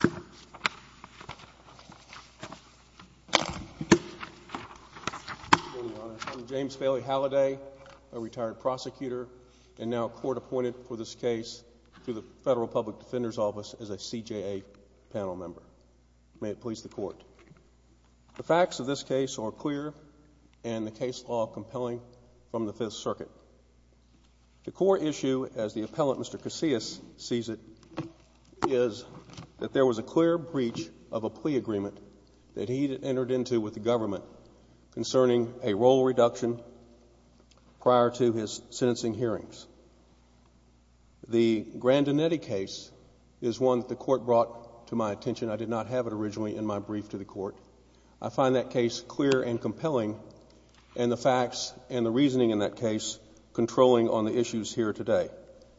The facts of this case are clear and the case law compelling from the 5th Circuit. The core issue, as the appellant Mr. Casillas sees it, is that there was a clear breach of a plea agreement that he entered into with the government concerning a role reduction prior to his sentencing hearings. The Grandinetti case is one that the Court brought to my attention. I did not have it originally in my brief to the Court. I find that case clear and compelling and the facts and the reasoning in that case controlling on the issues here today.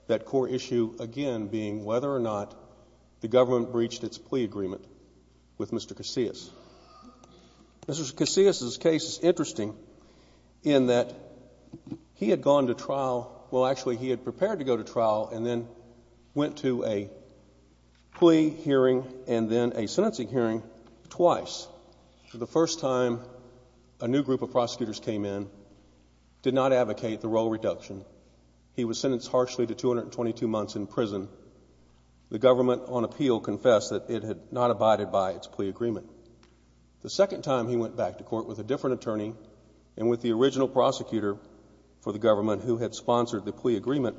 That core issue, again, being whether or not the government breached its plea agreement with Mr. Casillas. Mr. Casillas' case is interesting in that he had gone to trial – well, actually, he had prepared to go to trial and then went to a plea hearing and then a sentencing hearing – twice. The first time, a new group of prosecutors came in, did not advocate the role reduction. He was sentenced harshly to 222 months in prison. The government on appeal confessed that it had not abided by its plea agreement. The second time he went back to court with a different attorney and with the original prosecutor for the government who had sponsored the plea agreement,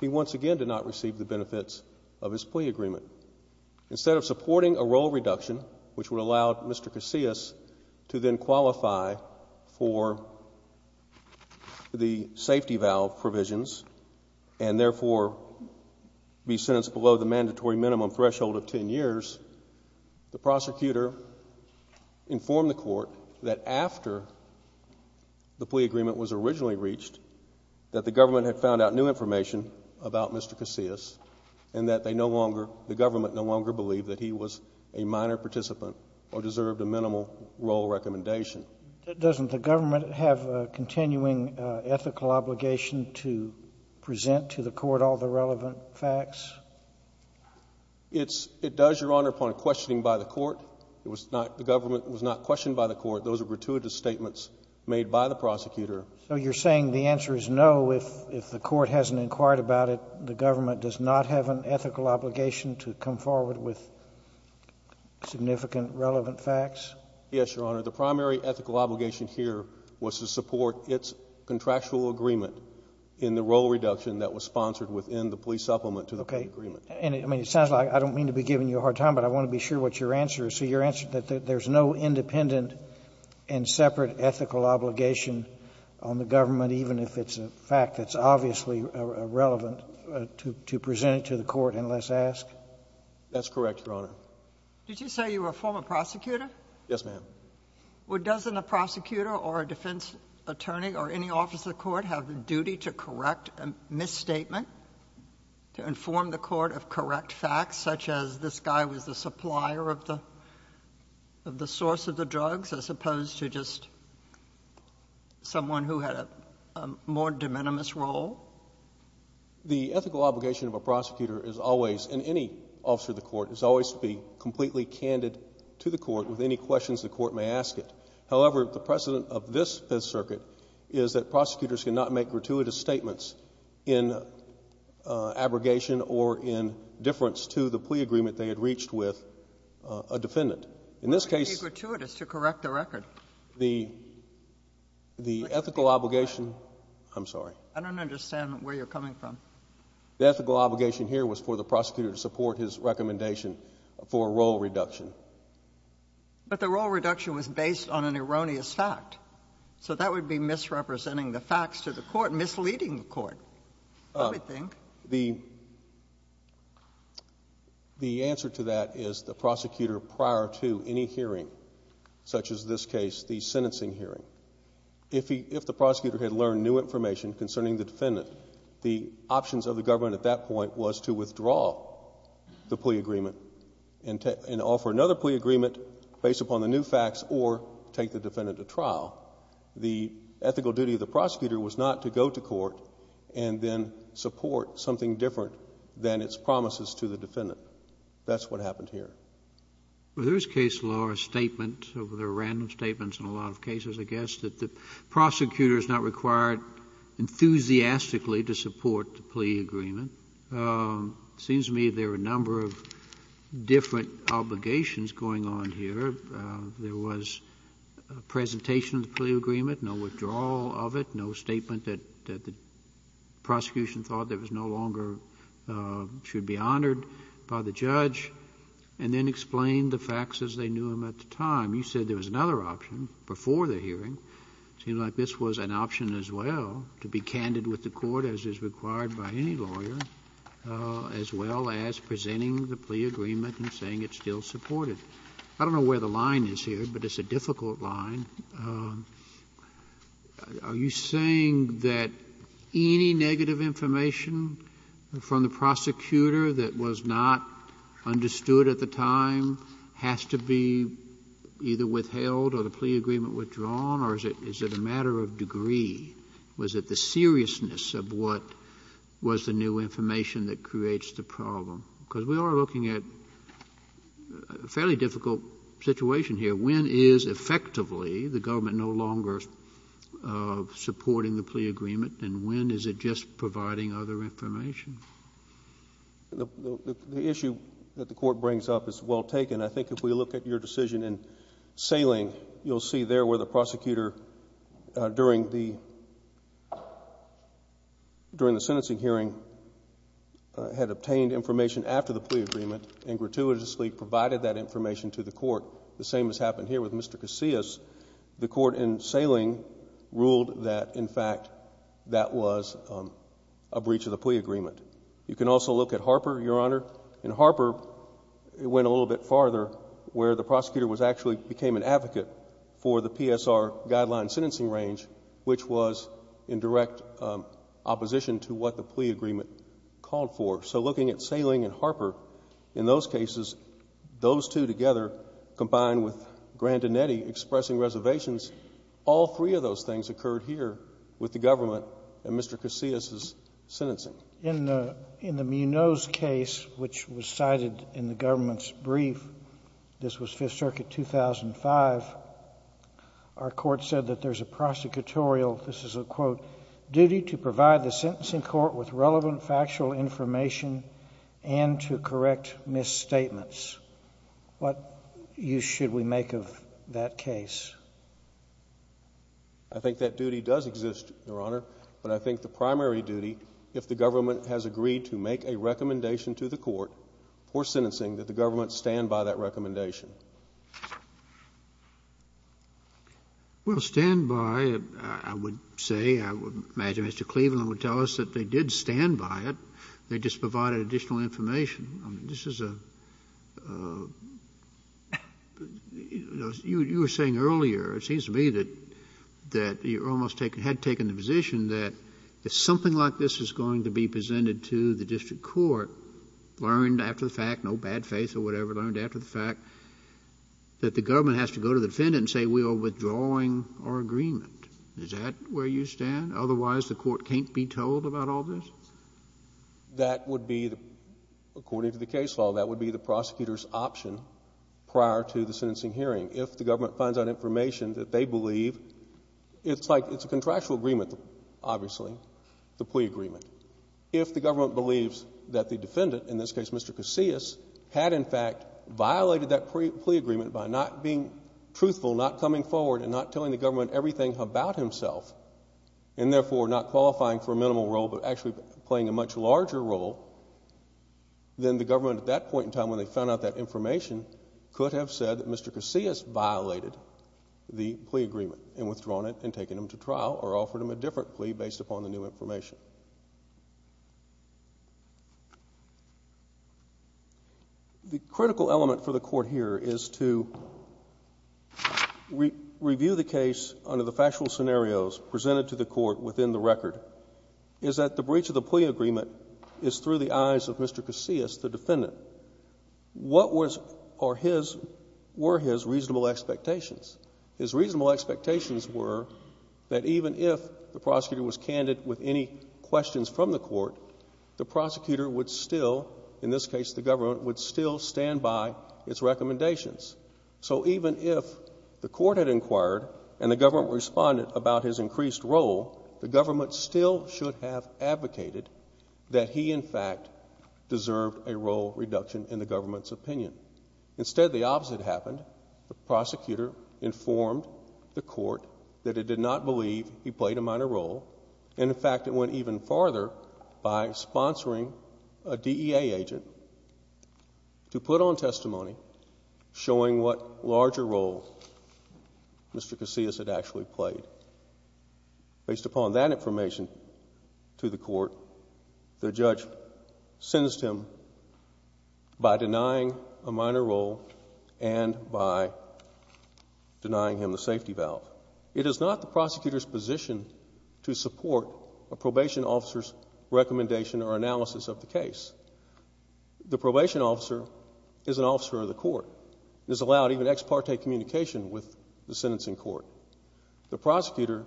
he once again did not receive the benefits of his plea reduction, which would allow Mr. Casillas to then qualify for the safety valve provisions and therefore be sentenced below the mandatory minimum threshold of 10 years. The prosecutor informed the Court that after the plea agreement was originally reached, that the government had found out new information about Mr. Casillas and that they no longer – the government no longer believed that he was a minor participant or deserved a minimal role recommendation. That doesn't the government have a continuing ethical obligation to present to the Court all the relevant facts? It's – it does, Your Honor, upon questioning by the Court. It was not – the government was not questioned by the Court. Those were gratuitous statements made by the prosecutor. So you're saying the answer is no, if the Court hasn't inquired about it, the government does not have an ethical obligation to come forward with significant relevant facts? Yes, Your Honor. The primary ethical obligation here was to support its contractual agreement in the role reduction that was sponsored within the plea supplement to the plea agreement. Okay. And I mean, it sounds like – I don't mean to be giving you a hard time, but I want to be sure what your answer is. So your answer is that there's no independent and separate ethical obligation on the government, even if it's a fact that's obviously relevant, to present it to the Court unless asked? That's correct, Your Honor. Did you say you were a former prosecutor? Yes, ma'am. Well, doesn't a prosecutor or a defense attorney or any officer of the Court have the duty to correct a misstatement, to inform the Court of correct facts, such as this guy was the supplier of the – of the source of the drugs, as opposed to just someone who had a more de minimis role? The ethical obligation of a prosecutor is always, in any officer of the Court, is always to be completely candid to the Court with any questions the Court may ask it. However, the precedent of this Fifth Circuit is that prosecutors cannot make gratuitous statements in abrogation or in deference to the plea agreement they had reached with a defendant. In this case – What would be gratuitous to correct the record? The – the ethical obligation – I'm sorry. I don't understand where you're coming from. The ethical obligation here was for the prosecutor to support his recommendation for a role reduction. But the role reduction was based on an erroneous fact. So that would be misrepresenting the facts to the Court, misleading the Court, I would think. The – the answer to that is the prosecutor prior to any hearing, such as this case, the sentencing hearing, if he – if the prosecutor had learned new information concerning the defendant, the options of the government at that point was to withdraw the plea agreement and take – and offer another plea agreement based upon the new facts or take the defendant to trial. The ethical duty of the prosecutor was not to go to court and then support something different than its promises to the defendant. That's what happened here. Well, there is case law or statement, or there are random statements in a lot of cases, I guess, that the prosecutor is not required enthusiastically to support the plea agreement. It seems to me there are a number of different obligations going on here. There was a presentation of the plea agreement, no withdrawal of it, no statement that – that the prosecution thought there was no longer – should be honored by the judge, and then explain the facts as they knew them at the time. You said there was another option before the hearing. It seems like this was an option as well, to be candid with the Court as is required by any lawyer, as well as presenting the plea agreement and saying it's still supported. I don't know where the line is here, but it's a difficult line. Are you saying that any negative information from the prosecutor that was not understood at the time has to be either withheld or the plea agreement withdrawn, or is it a matter of degree? Was it the seriousness of what was the new information that creates the problem? Because we are looking at a fairly difficult situation here. When is effectively the government no longer supporting the plea agreement, and when is it just providing other information? The issue that the Court brings up is well taken. I think if we look at your decision in Saling, you'll see there where the prosecutor, during the – during the sentencing hearing, had obtained information after the plea agreement and gratuitously provided that information to the Court, the same has happened here with Mr. Casillas. The Court in Saling ruled that, in fact, that was a breach of the plea agreement. You can also look at Harper, Your Honor. In Harper, it went a little bit farther, where the prosecutor was actually – became an advocate for the PSR guideline sentencing range, which was in direct opposition to what the plea agreement called for. So looking at Saling and Harper, in those cases, those two together, combined with Grandinetti expressing reservations, all three of those things occurred here with the government and Mr. Casillas' sentencing. In the Munoz case, which was cited in the government's brief, this was Fifth Circuit 2005, our Court said that there's a prosecutorial, this is a quote, duty to provide the sentencing court with relevant factual information and to correct misstatements. What use should we make of that case? I think that duty does exist, Your Honor, but I think the primary duty, if the government has agreed to make a recommendation to the court for sentencing, that the government stand by that recommendation. Well, stand by it, I would say. I would imagine Mr. Cleveland would tell us that they did stand by it. They just provided additional information. This is a – you were saying earlier, it seems to me, that you almost had taken the position that if something like this is going to be presented to the district court, learned after the fact, no bad faith or whatever, learned after the fact, that the government has to go to the defendant and say, we are withdrawing our agreement. Is that where you stand? Otherwise, the court can't be told about all this? That would be, according to the case law, that would be the prosecutor's option prior to the sentencing hearing. If the government finds out information that they believe – it's like, it's a contractual agreement, obviously, the plea agreement. If the government believes that the defendant, in this case Mr. Casillas, had in fact violated that plea agreement by not being truthful, not coming forward, and not telling the government everything about himself, and therefore not qualifying for a minimal role but actually playing a much larger role, then the government at that point in time when they found out that information could have said that Mr. Casillas violated the plea agreement and withdrawn it and taken him to trial or offered him a different plea based upon the new information. The critical element for the court here is to review the case under the factual scenarios presented to the court within the record, is that the breach of the plea agreement is through the eyes of Mr. Casillas, the defendant. What were his reasonable expectations? His reasonable expectations were that even if the prosecutor was candid with any questions from the court, the prosecutor would still, in this case the government, would still stand by its recommendations. So even if the court had inquired and the government responded about his increased role, the government still should have advocated that he in fact deserved a role reduction in the government's opinion. Instead, the opposite happened. The prosecutor informed the court that it did not believe he played a minor role. In fact, it went even farther by sponsoring a DEA agent to put on testimony showing what larger role Mr. Casillas had actually played. Based upon that information to the court, the judge sentenced him by denying a minor role and by denying him the safety valve. It is not the prosecutor's position to support a probation officer's recommendation or analysis of the case. The probation officer is an officer of the court and is allowed even ex parte communication with the sentencing court. The prosecutor,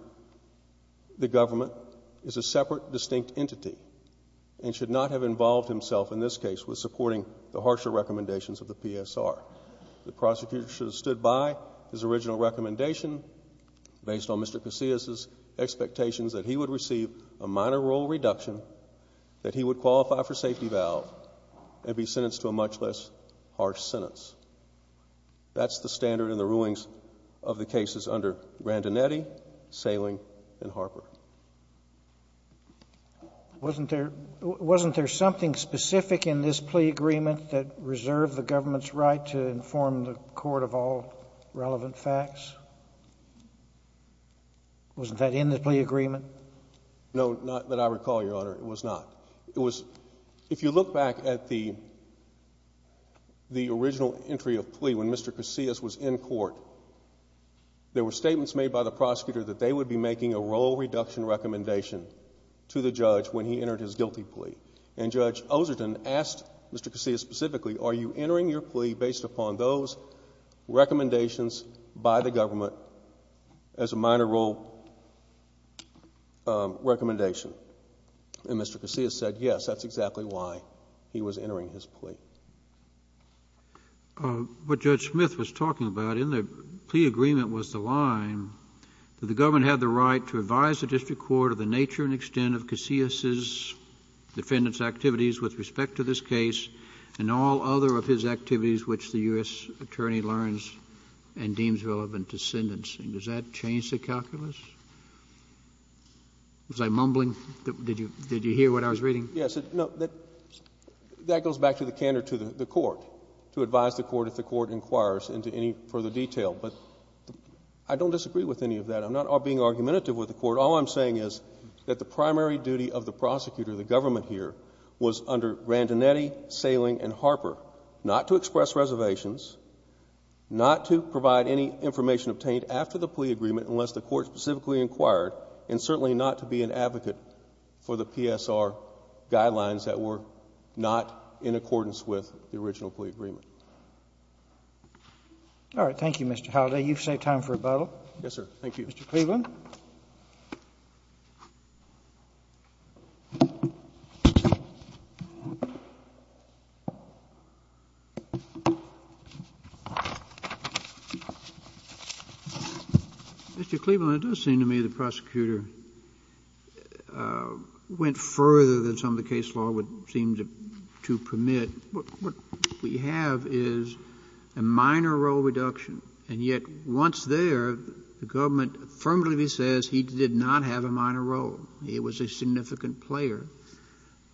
the government, is a separate, distinct entity and should not have involved himself in this case with supporting the harsher recommendations of the PSR. The prosecutor should have stood by his original recommendation based on Mr. Casillas' expectations that he would receive a minor role reduction, that he would qualify for safety valve and be sentenced to a much less harsh sentence. That's the standard in the rulings of the cases under Randinetti, Saling and Harper. Wasn't there something specific in this plea agreement that reserved the government's right to inform the court of all relevant facts? Wasn't that in the plea agreement? No, not that I recall, Your Honor. It was not. It was, if you look back at the original entry of plea when Mr. Casillas was in court, there were statements made by the prosecutor that they would be making a role reduction recommendation to the judge when he entered his guilty plea. And Judge Oserton asked Mr. Casillas specifically, are you entering your plea based upon those recommendations by the government as a minor role recommendation? And Mr. Casillas said, yes, that's exactly why he was entering his plea. What Judge Smith was talking about in the plea agreement was the line that the government had the right to advise the district court of the nature and extent of Casillas' defendant's activities with respect to this case and all other of his activities which the U.S. attorney learns and deems relevant to sentencing. Does that change the calculus? Was I mumbling? Did you hear what I was reading? Yes. No, that goes back to the candor to the court, to advise the court if the court inquires into any further detail. But I don't disagree with any of that. I'm not being argumentative with the court. All I'm saying is that the primary duty of the prosecutor, the government here, was under Grandinetti, Saling, and Harper, not to express reservations, not to provide any information obtained after the plea agreement unless the court specifically inquired, and certainly not to be an advocate for the PSR guidelines that were not in accordance with the original plea agreement. All right. Thank you, Mr. Halliday. You've saved time for rebuttal. Yes, sir. Thank you. Mr. Cleveland? Obviously, the prosecutor went further than some of the case law would seem to permit. What we have is a minor role reduction. And yet, once there, the government firmly says he did not have a minor role. He was a significant player.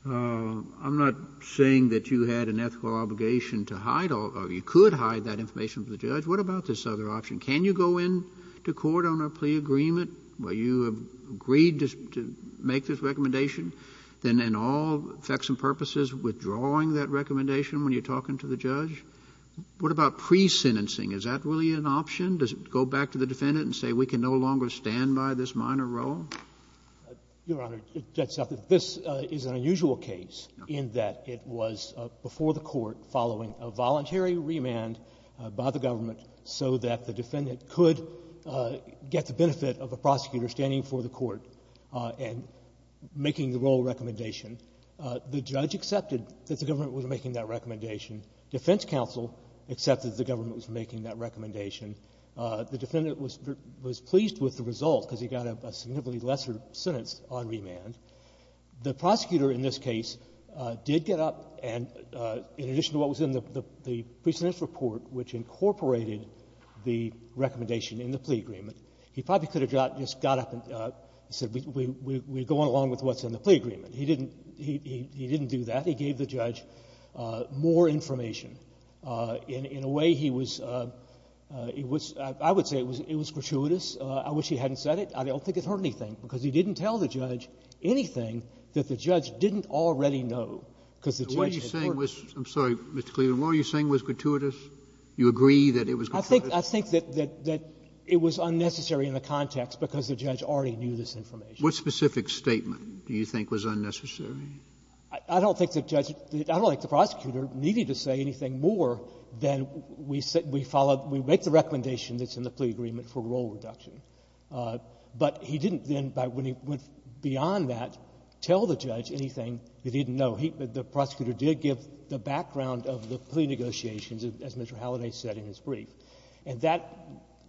I'm not saying that you had an ethical obligation to hide all of it. You could hide that information from the judge. What about this other option? Can you go into court on a plea agreement where you have agreed to make this recommendation, then in all effects and purposes withdrawing that recommendation when you're talking to the judge? What about pre-sentencing? Is that really an option? Does it go back to the defendant and say, we can no longer stand by this minor role? Your Honor, it's just that this is an unusual case in that it was before the court following a voluntary remand by the government so that the defendant could get the benefit of a prosecutor standing before the court and making the role recommendation. The judge accepted that the government was making that recommendation. Defense counsel accepted the government was making that recommendation. The defendant was pleased with the result because he got a significantly lesser sentence on remand. The prosecutor in this case did get up and, in addition to what was in the pre-sentence report which incorporated the recommendation in the plea agreement, he probably could have just got up and said, we're going along with what's in the plea agreement. He didn't do that. He gave the judge more information. In a way, he was — I would say it was gratuitous. I wish he hadn't said it. I don't think it hurt anything, because he didn't tell the judge anything that the judge didn't already know, because the judge had heard it. What are you saying was — I'm sorry, Mr. Cleveland. What are you saying was gratuitous? You agree that it was gratuitous? I think that it was unnecessary in the context because the judge already knew this information. What specific statement do you think was unnecessary? I don't think the judge — I don't think the prosecutor needed to say anything more than we follow — we make the recommendation that's in the plea agreement for role reduction. But he didn't then, when he went beyond that, tell the judge anything that he didn't know. He — the prosecutor did give the background of the plea negotiations, as Mr. Halliday said in his brief. And that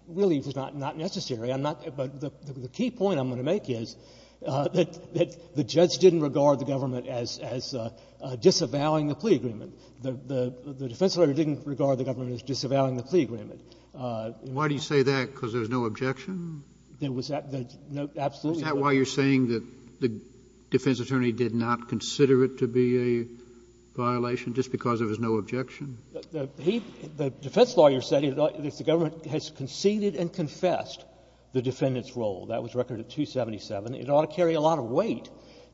really was not necessary. I'm not — but the key point I'm going to make is that the judge didn't regard the government as disavowing the plea agreement. The defense lawyer didn't regard the government as disavowing the plea agreement. Why do you say that? Because there was no objection? There was no — absolutely. Is that why you're saying that the defense attorney did not consider it to be a violation just because there was no objection? He — the defense lawyer said that the government has conceded and confessed the defendant's role. That was record at 277. It ought to carry a lot of weight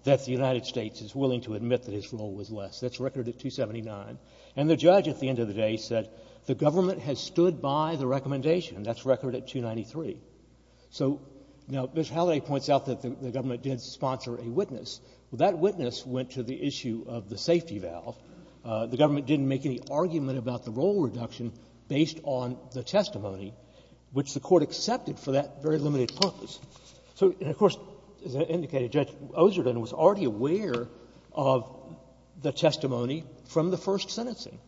that the United States is willing to admit that his role was less. That's record at 279. And the judge, at the end of the day, said the government has stood by the recommendation. That's record at 293. So, now, Mr. Halliday points out that the government did sponsor a witness. Well, that witness went to the issue of the safety valve. The government didn't make any argument about the role reduction based on the testimony, which the Court accepted for that very limited purpose. So — and, of course, as I indicated, Judge Ozerden was already aware of the testimony from the first sentencing.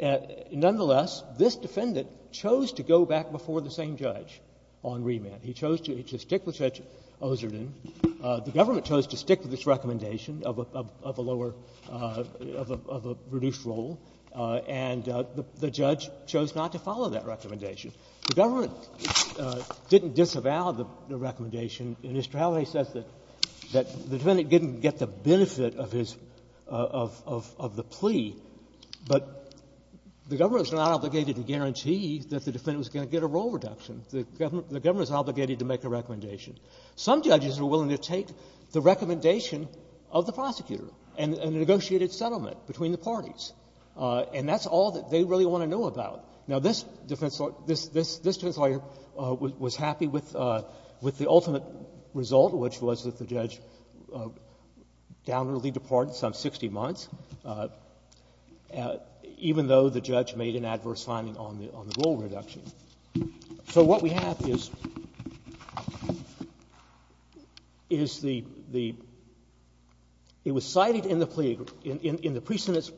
Nonetheless, this defendant chose to go back before the same judge on remand. He chose to stick with Judge Ozerden. The government chose to stick with its recommendation of a lower — of a reduced role. And the judge chose not to follow that recommendation. The government didn't disavow the recommendation. And Mr. Halliday says that the defendant didn't get the benefit of his — of the plea, but the government was not obligated to guarantee that the defendant was going to get a role reduction. The government was obligated to make a recommendation. Some judges were willing to take the recommendation of the prosecutor and negotiate its settlement between the parties. And that's all that they really want to know about. Now, this defense lawyer — this was the ultimate result, which was that the judge downwardly departed some 60 months, even though the judge made an adverse finding on the — on the role reduction. So what we have is — is the — the — it was cited in the plea — in the presentence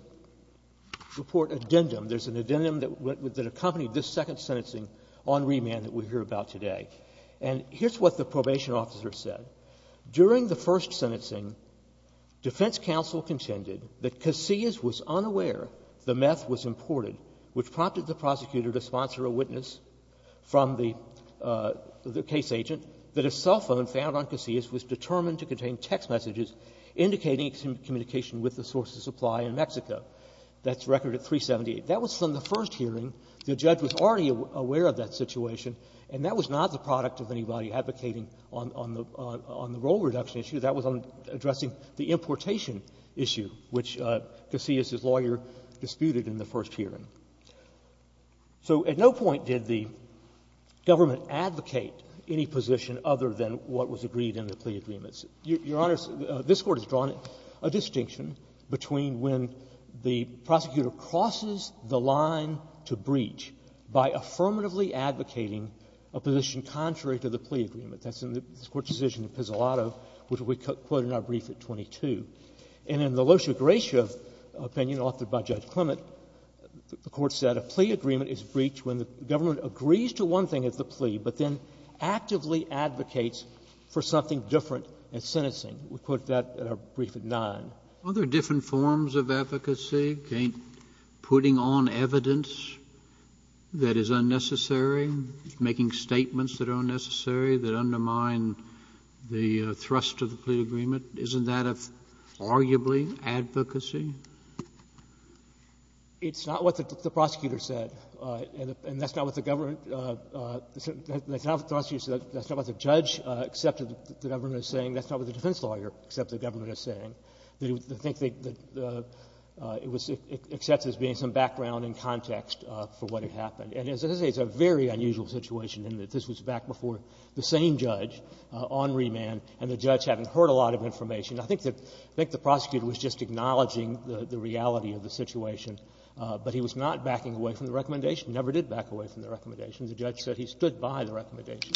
report addendum. There's an addendum that accompanied this second sentencing on remand that we hear about today. And here's what the probation officer said. During the first sentencing, defense counsel contended that Casillas was unaware the meth was imported, which prompted the prosecutor to sponsor a witness from the — the case agent that a cell phone found on Casillas was determined to contain text messages indicating communication with the source of supply in Mexico. That's record at 378. That was from the first hearing. The judge was already aware of that situation, and that was not the product of anybody advocating on — on the — on the role reduction issue. That was on addressing the importation issue, which Casillas' lawyer disputed in the first hearing. So at no point did the government advocate any position other than what was agreed in the plea agreements. Your Honor, this Court has drawn a distinction between when the prosecutor crosses the line to breach by affirmatively advocating a position contrary to the plea agreement. That's in this Court's decision in Pizzolatto, which we quote in our brief at 22. And in the Losi-Gracia opinion authored by Judge Clement, the Court said a plea agreement is breached when the government agrees to one thing as the plea, but then actively advocates for something different in sentencing. We quote that in our brief at 9. Are there different forms of advocacy, putting on evidence that is unnecessary, making statements that are unnecessary, that undermine the thrust of the plea agreement? Isn't that arguably advocacy? It's not what the prosecutor said, and that's not what the government — that's not what the judge accepted the government was saying. That's not what the defense lawyer accepted the government was saying. They think that the — it was accepted as being some background and context for what had happened. And as I say, it's a very unusual situation in that this was back before the same judge on remand, and the judge having heard a lot of information. I think the prosecutor was just acknowledging the reality of the situation, but he was not backing away from the recommendation, never did back away from the recommendation. The judge said he stood by the recommendation.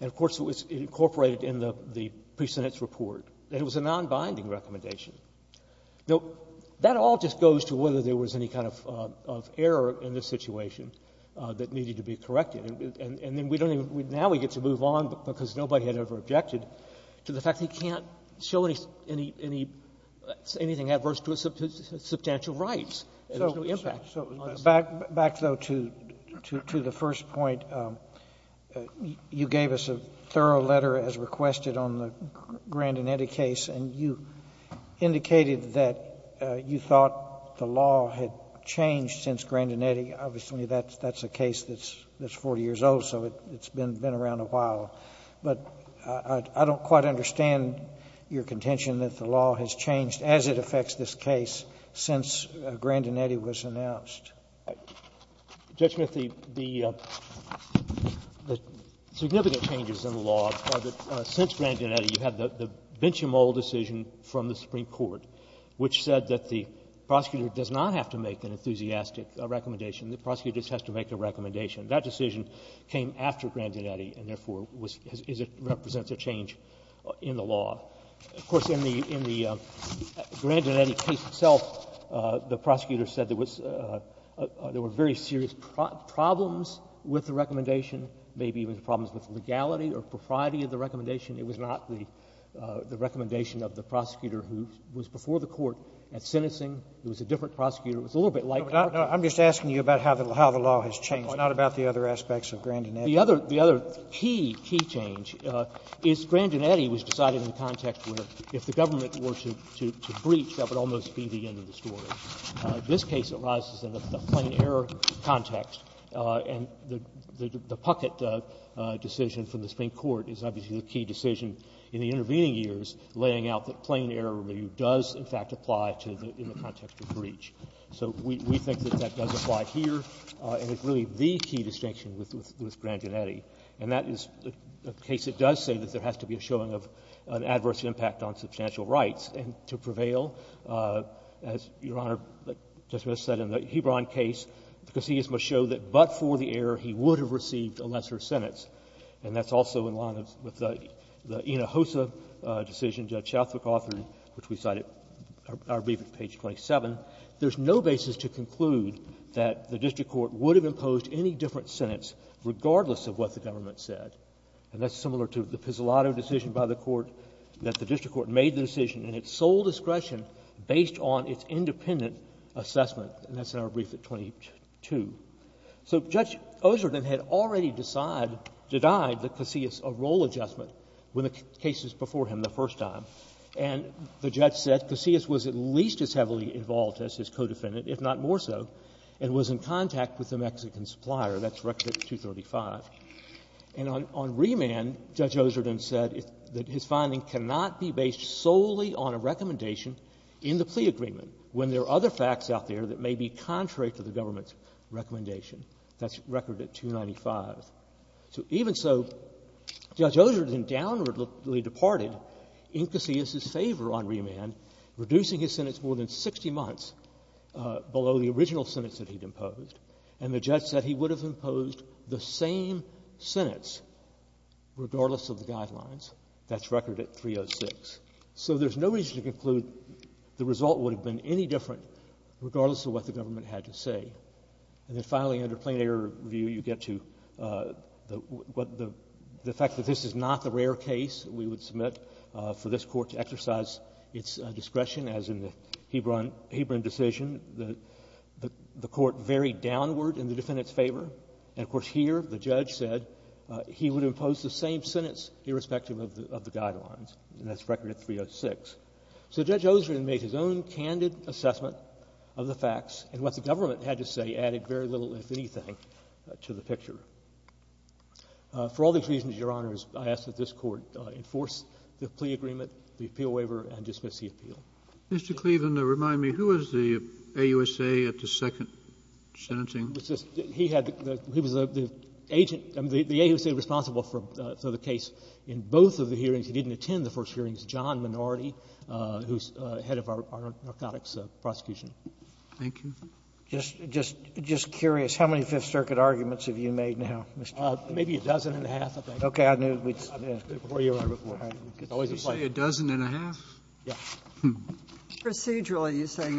And, of course, it was incorporated in the pre-sentence report that it was a nonbinding recommendation. Now, that all just goes to whether there was any kind of error in this situation that needed to be corrected. And then we don't even — now we get to move on because nobody had ever objected to the fact that he can't show any — anything adverse to his substantial rights. There's no impact. So back, though, to the first point, you gave us a thorough letter as requested on the Grandinetti case, and you indicated that you thought the law had changed since Grandinetti. Obviously, that's a case that's 40 years old, so it's been around a while. But I don't quite understand your contention that the law has changed as it affects this case since Grandinetti was announced. Judge Smith, the — the significant changes in the law are that since Grandinetti, you had the Benchamol decision from the Supreme Court, which said that the prosecutor does not have to make an enthusiastic recommendation. The prosecutor just has to make a recommendation. That decision came after Grandinetti and, therefore, was — is — represents a change in the law. Of course, in the — in the Grandinetti case itself, the prosecutor said there was — there were very serious problems with the recommendation, maybe even problems with legality or propriety of the recommendation. It was not the recommendation of the prosecutor who was before the Court at sentencing. It was a different prosecutor. It was a little bit like — Roberts. I'm just asking you about how the law has changed, not about the other aspects of Grandinetti. The other — the other key, key change is Grandinetti was decided in the context where if the government were to breach, that would almost be the end of the story. This case arises in the plain-error context. And the Puckett decision from the Supreme Court is obviously the key decision in the intervening years laying out that plain-error review does, in fact, apply to the — in the context of breach. So we — we think that that does apply here, and it's really the key distinction with — with Grandinetti. And that is a case that does say that there has to be a showing of an adverse impact on substantial rights. And to prevail, as Your Honor, Justice Breyer said in the Hebron case, the prosecutor must show that but for the error, he would have received a lesser sentence. And that's also in line with the — the Ina Hossa decision, Judge Shaltz had authored, which we cited, our brief at page 27. There's no basis to conclude that the district court would have imposed any different sentence, regardless of what the government said. And that's similar to the Pizzolatto decision by the court, that the district court made the decision in its sole discretion based on its independent assessment, and that's in our brief at 22. So Judge Oserden had already decided — denied the caseus a role adjustment when the case was before him the first time. And the judge said caseus was at least as heavily involved as his co-defendant, if not more so, and was in contact with the Mexican supplier. That's record at 235. And on — on remand, Judge Oserden said that his finding cannot be based solely on a recommendation in the plea agreement when there are other facts out there that may be contrary to the government's recommendation. That's record at 295. So even so, Judge Oserden downwardly departed in caseus' favor on remand, reducing his sentence more than 60 months below the original sentence that he'd imposed. And the judge said he would have imposed the same sentence, regardless of the guidelines. That's record at 306. So there's no reason to conclude the result would have been any different, regardless of what the government had to say. And then finally, under plain error view, you get to the fact that this is not the rare case we would submit for this Court to exercise its discretion, as in the Hebron decision. The Court varied downward in the defendant's favor. And of course, here, the judge said he would impose the same sentence, irrespective of the guidelines. And that's record at 306. So Judge Oserden made his own candid assessment of the facts and what the government had to say, added very little, if anything, to the picture. For all these reasons, Your Honors, I ask that this Court enforce the plea agreement, the appeal waiver, and dismiss the appeal. Mr. Cleaven, remind me, who was the AUSA at the second sentencing? He had the — he was the agent — I mean, the AUSA responsible for the case. In both of the hearings, he didn't attend the first hearings, John Minority, who's head of our narcotics prosecution. Thank you. Just — just curious, how many Fifth Circuit arguments have you made now, Mr. Cleaven? Maybe a dozen and a half, I think. Okay. I knew we'd — Before you were on beforehand. It's always a pleasure. You say a dozen and a half? Yes. Procedurally, you say,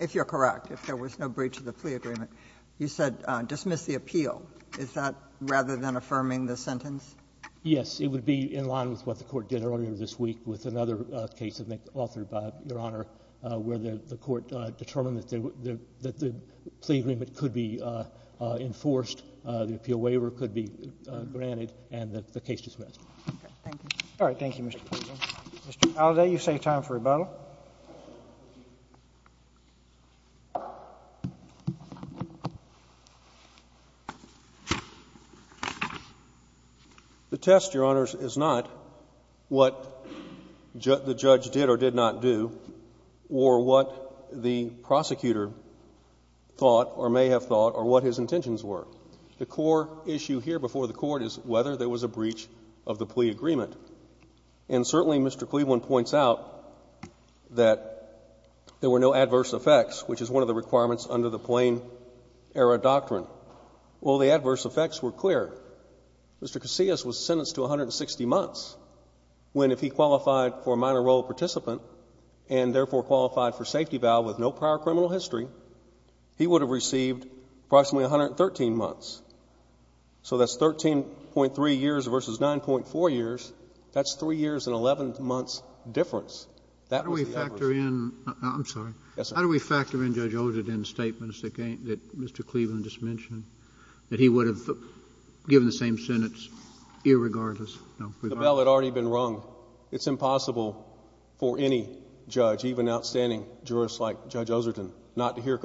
if you're correct, if there was no breach of the plea agreement, you said dismiss the appeal. Is that rather than affirming the sentence? Yes. It would be in line with what the Court did earlier this week with another case, I think, authored by Your Honor, where the Court determined that the — that the plea agreement could be enforced, the appeal waiver could be granted, and that the case dismissed. Okay. Thank you. All right. Thank you, Mr. Cleaven. Mr. Aldate, you say time for rebuttal. The test, Your Honors, is not what the judge did or did not do, or what the prosecutor thought or may have thought, or what his intentions were. The core issue here before the Court is whether there was a breach of the plea agreement. And certainly, Mr. Cleaven points out that there were no adverse effects, which is one of the requirements under the Plain-Era Doctrine. Well, the adverse effects were clear. Mr. Casillas was sentenced to 160 months, when if he qualified for a minor role participant and, therefore, qualified for safety bail with no prior criminal history, he would have received approximately 113 months. So that's 13.3 years versus 9.4 years. That's 3 years and 11 months difference. That was the average. How do we factor in — I'm sorry. Yes, sir. How do we factor in Judge Ozerton's statements that Mr. Cleaven just mentioned, that he would have given the same sentence, irregardless? The bell had already been rung. It's impossible for any judge, even outstanding jurists like Judge Ozerton, not to hear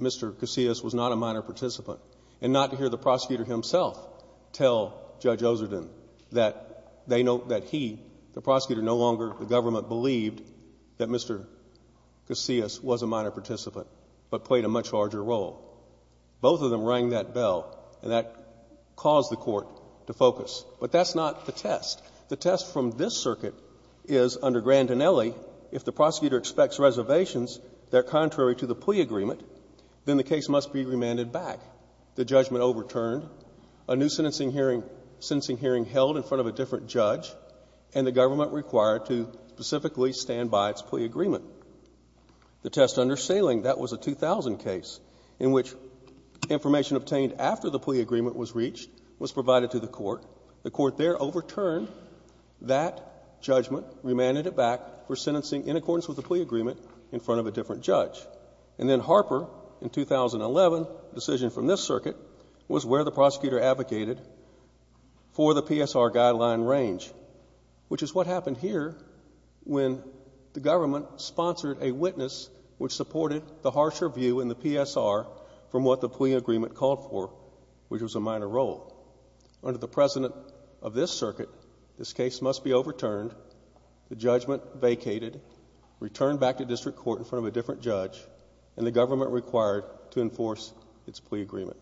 Mr. Casillas was not a minor participant, and not to hear the prosecutor himself tell Judge Ozerton that they — that he, the prosecutor, no longer — the government believed that Mr. Casillas was a minor participant, but played a much larger role. Both of them rang that bell, and that caused the Court to focus. But that's not the test. The test from this circuit is, under Grandinelli, if the prosecutor expects reservations that are contrary to the plea agreement, then the case must be remanded back. The judgment overturned, a new sentencing hearing held in front of a different judge, and the government required to specifically stand by its plea agreement. The test under Saling, that was a 2000 case in which information obtained after the plea agreement was reached was provided to the Court. The Court there overturned that judgment, remanded it back for sentencing in accordance with the plea agreement in front of a different judge. And then Harper, in 2011, a decision from this circuit, was where the prosecutor advocated for the PSR guideline range, which is what happened here when the government sponsored a witness which supported the harsher view in the PSR from what the plea agreement called for, which was a minor role. Under the precedent of this circuit, this case must be overturned. The judgment vacated, returned back to district court in front of a different judge, and the government required to enforce its plea agreement.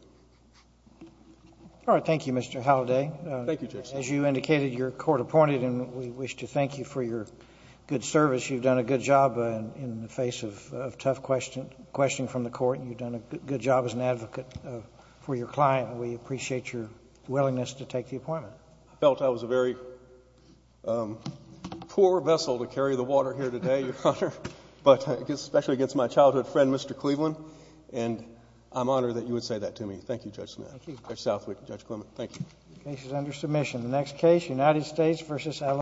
All right. Thank you, Mr. Halliday. Thank you, Justice. As you indicated, you're court-appointed, and we wish to thank you for your good service. You've done a good job in the face of tough questioning from the Court. You've done a good job as an advocate for your client. We appreciate your willingness to take the appointment. I felt I was a very poor vessel to carry the water here today, Your Honor, but especially against my childhood friend, Mr. Cleveland, and I'm honored that you would say that to me. Thank you, Judge Southwick and Judge Clement. Thank you.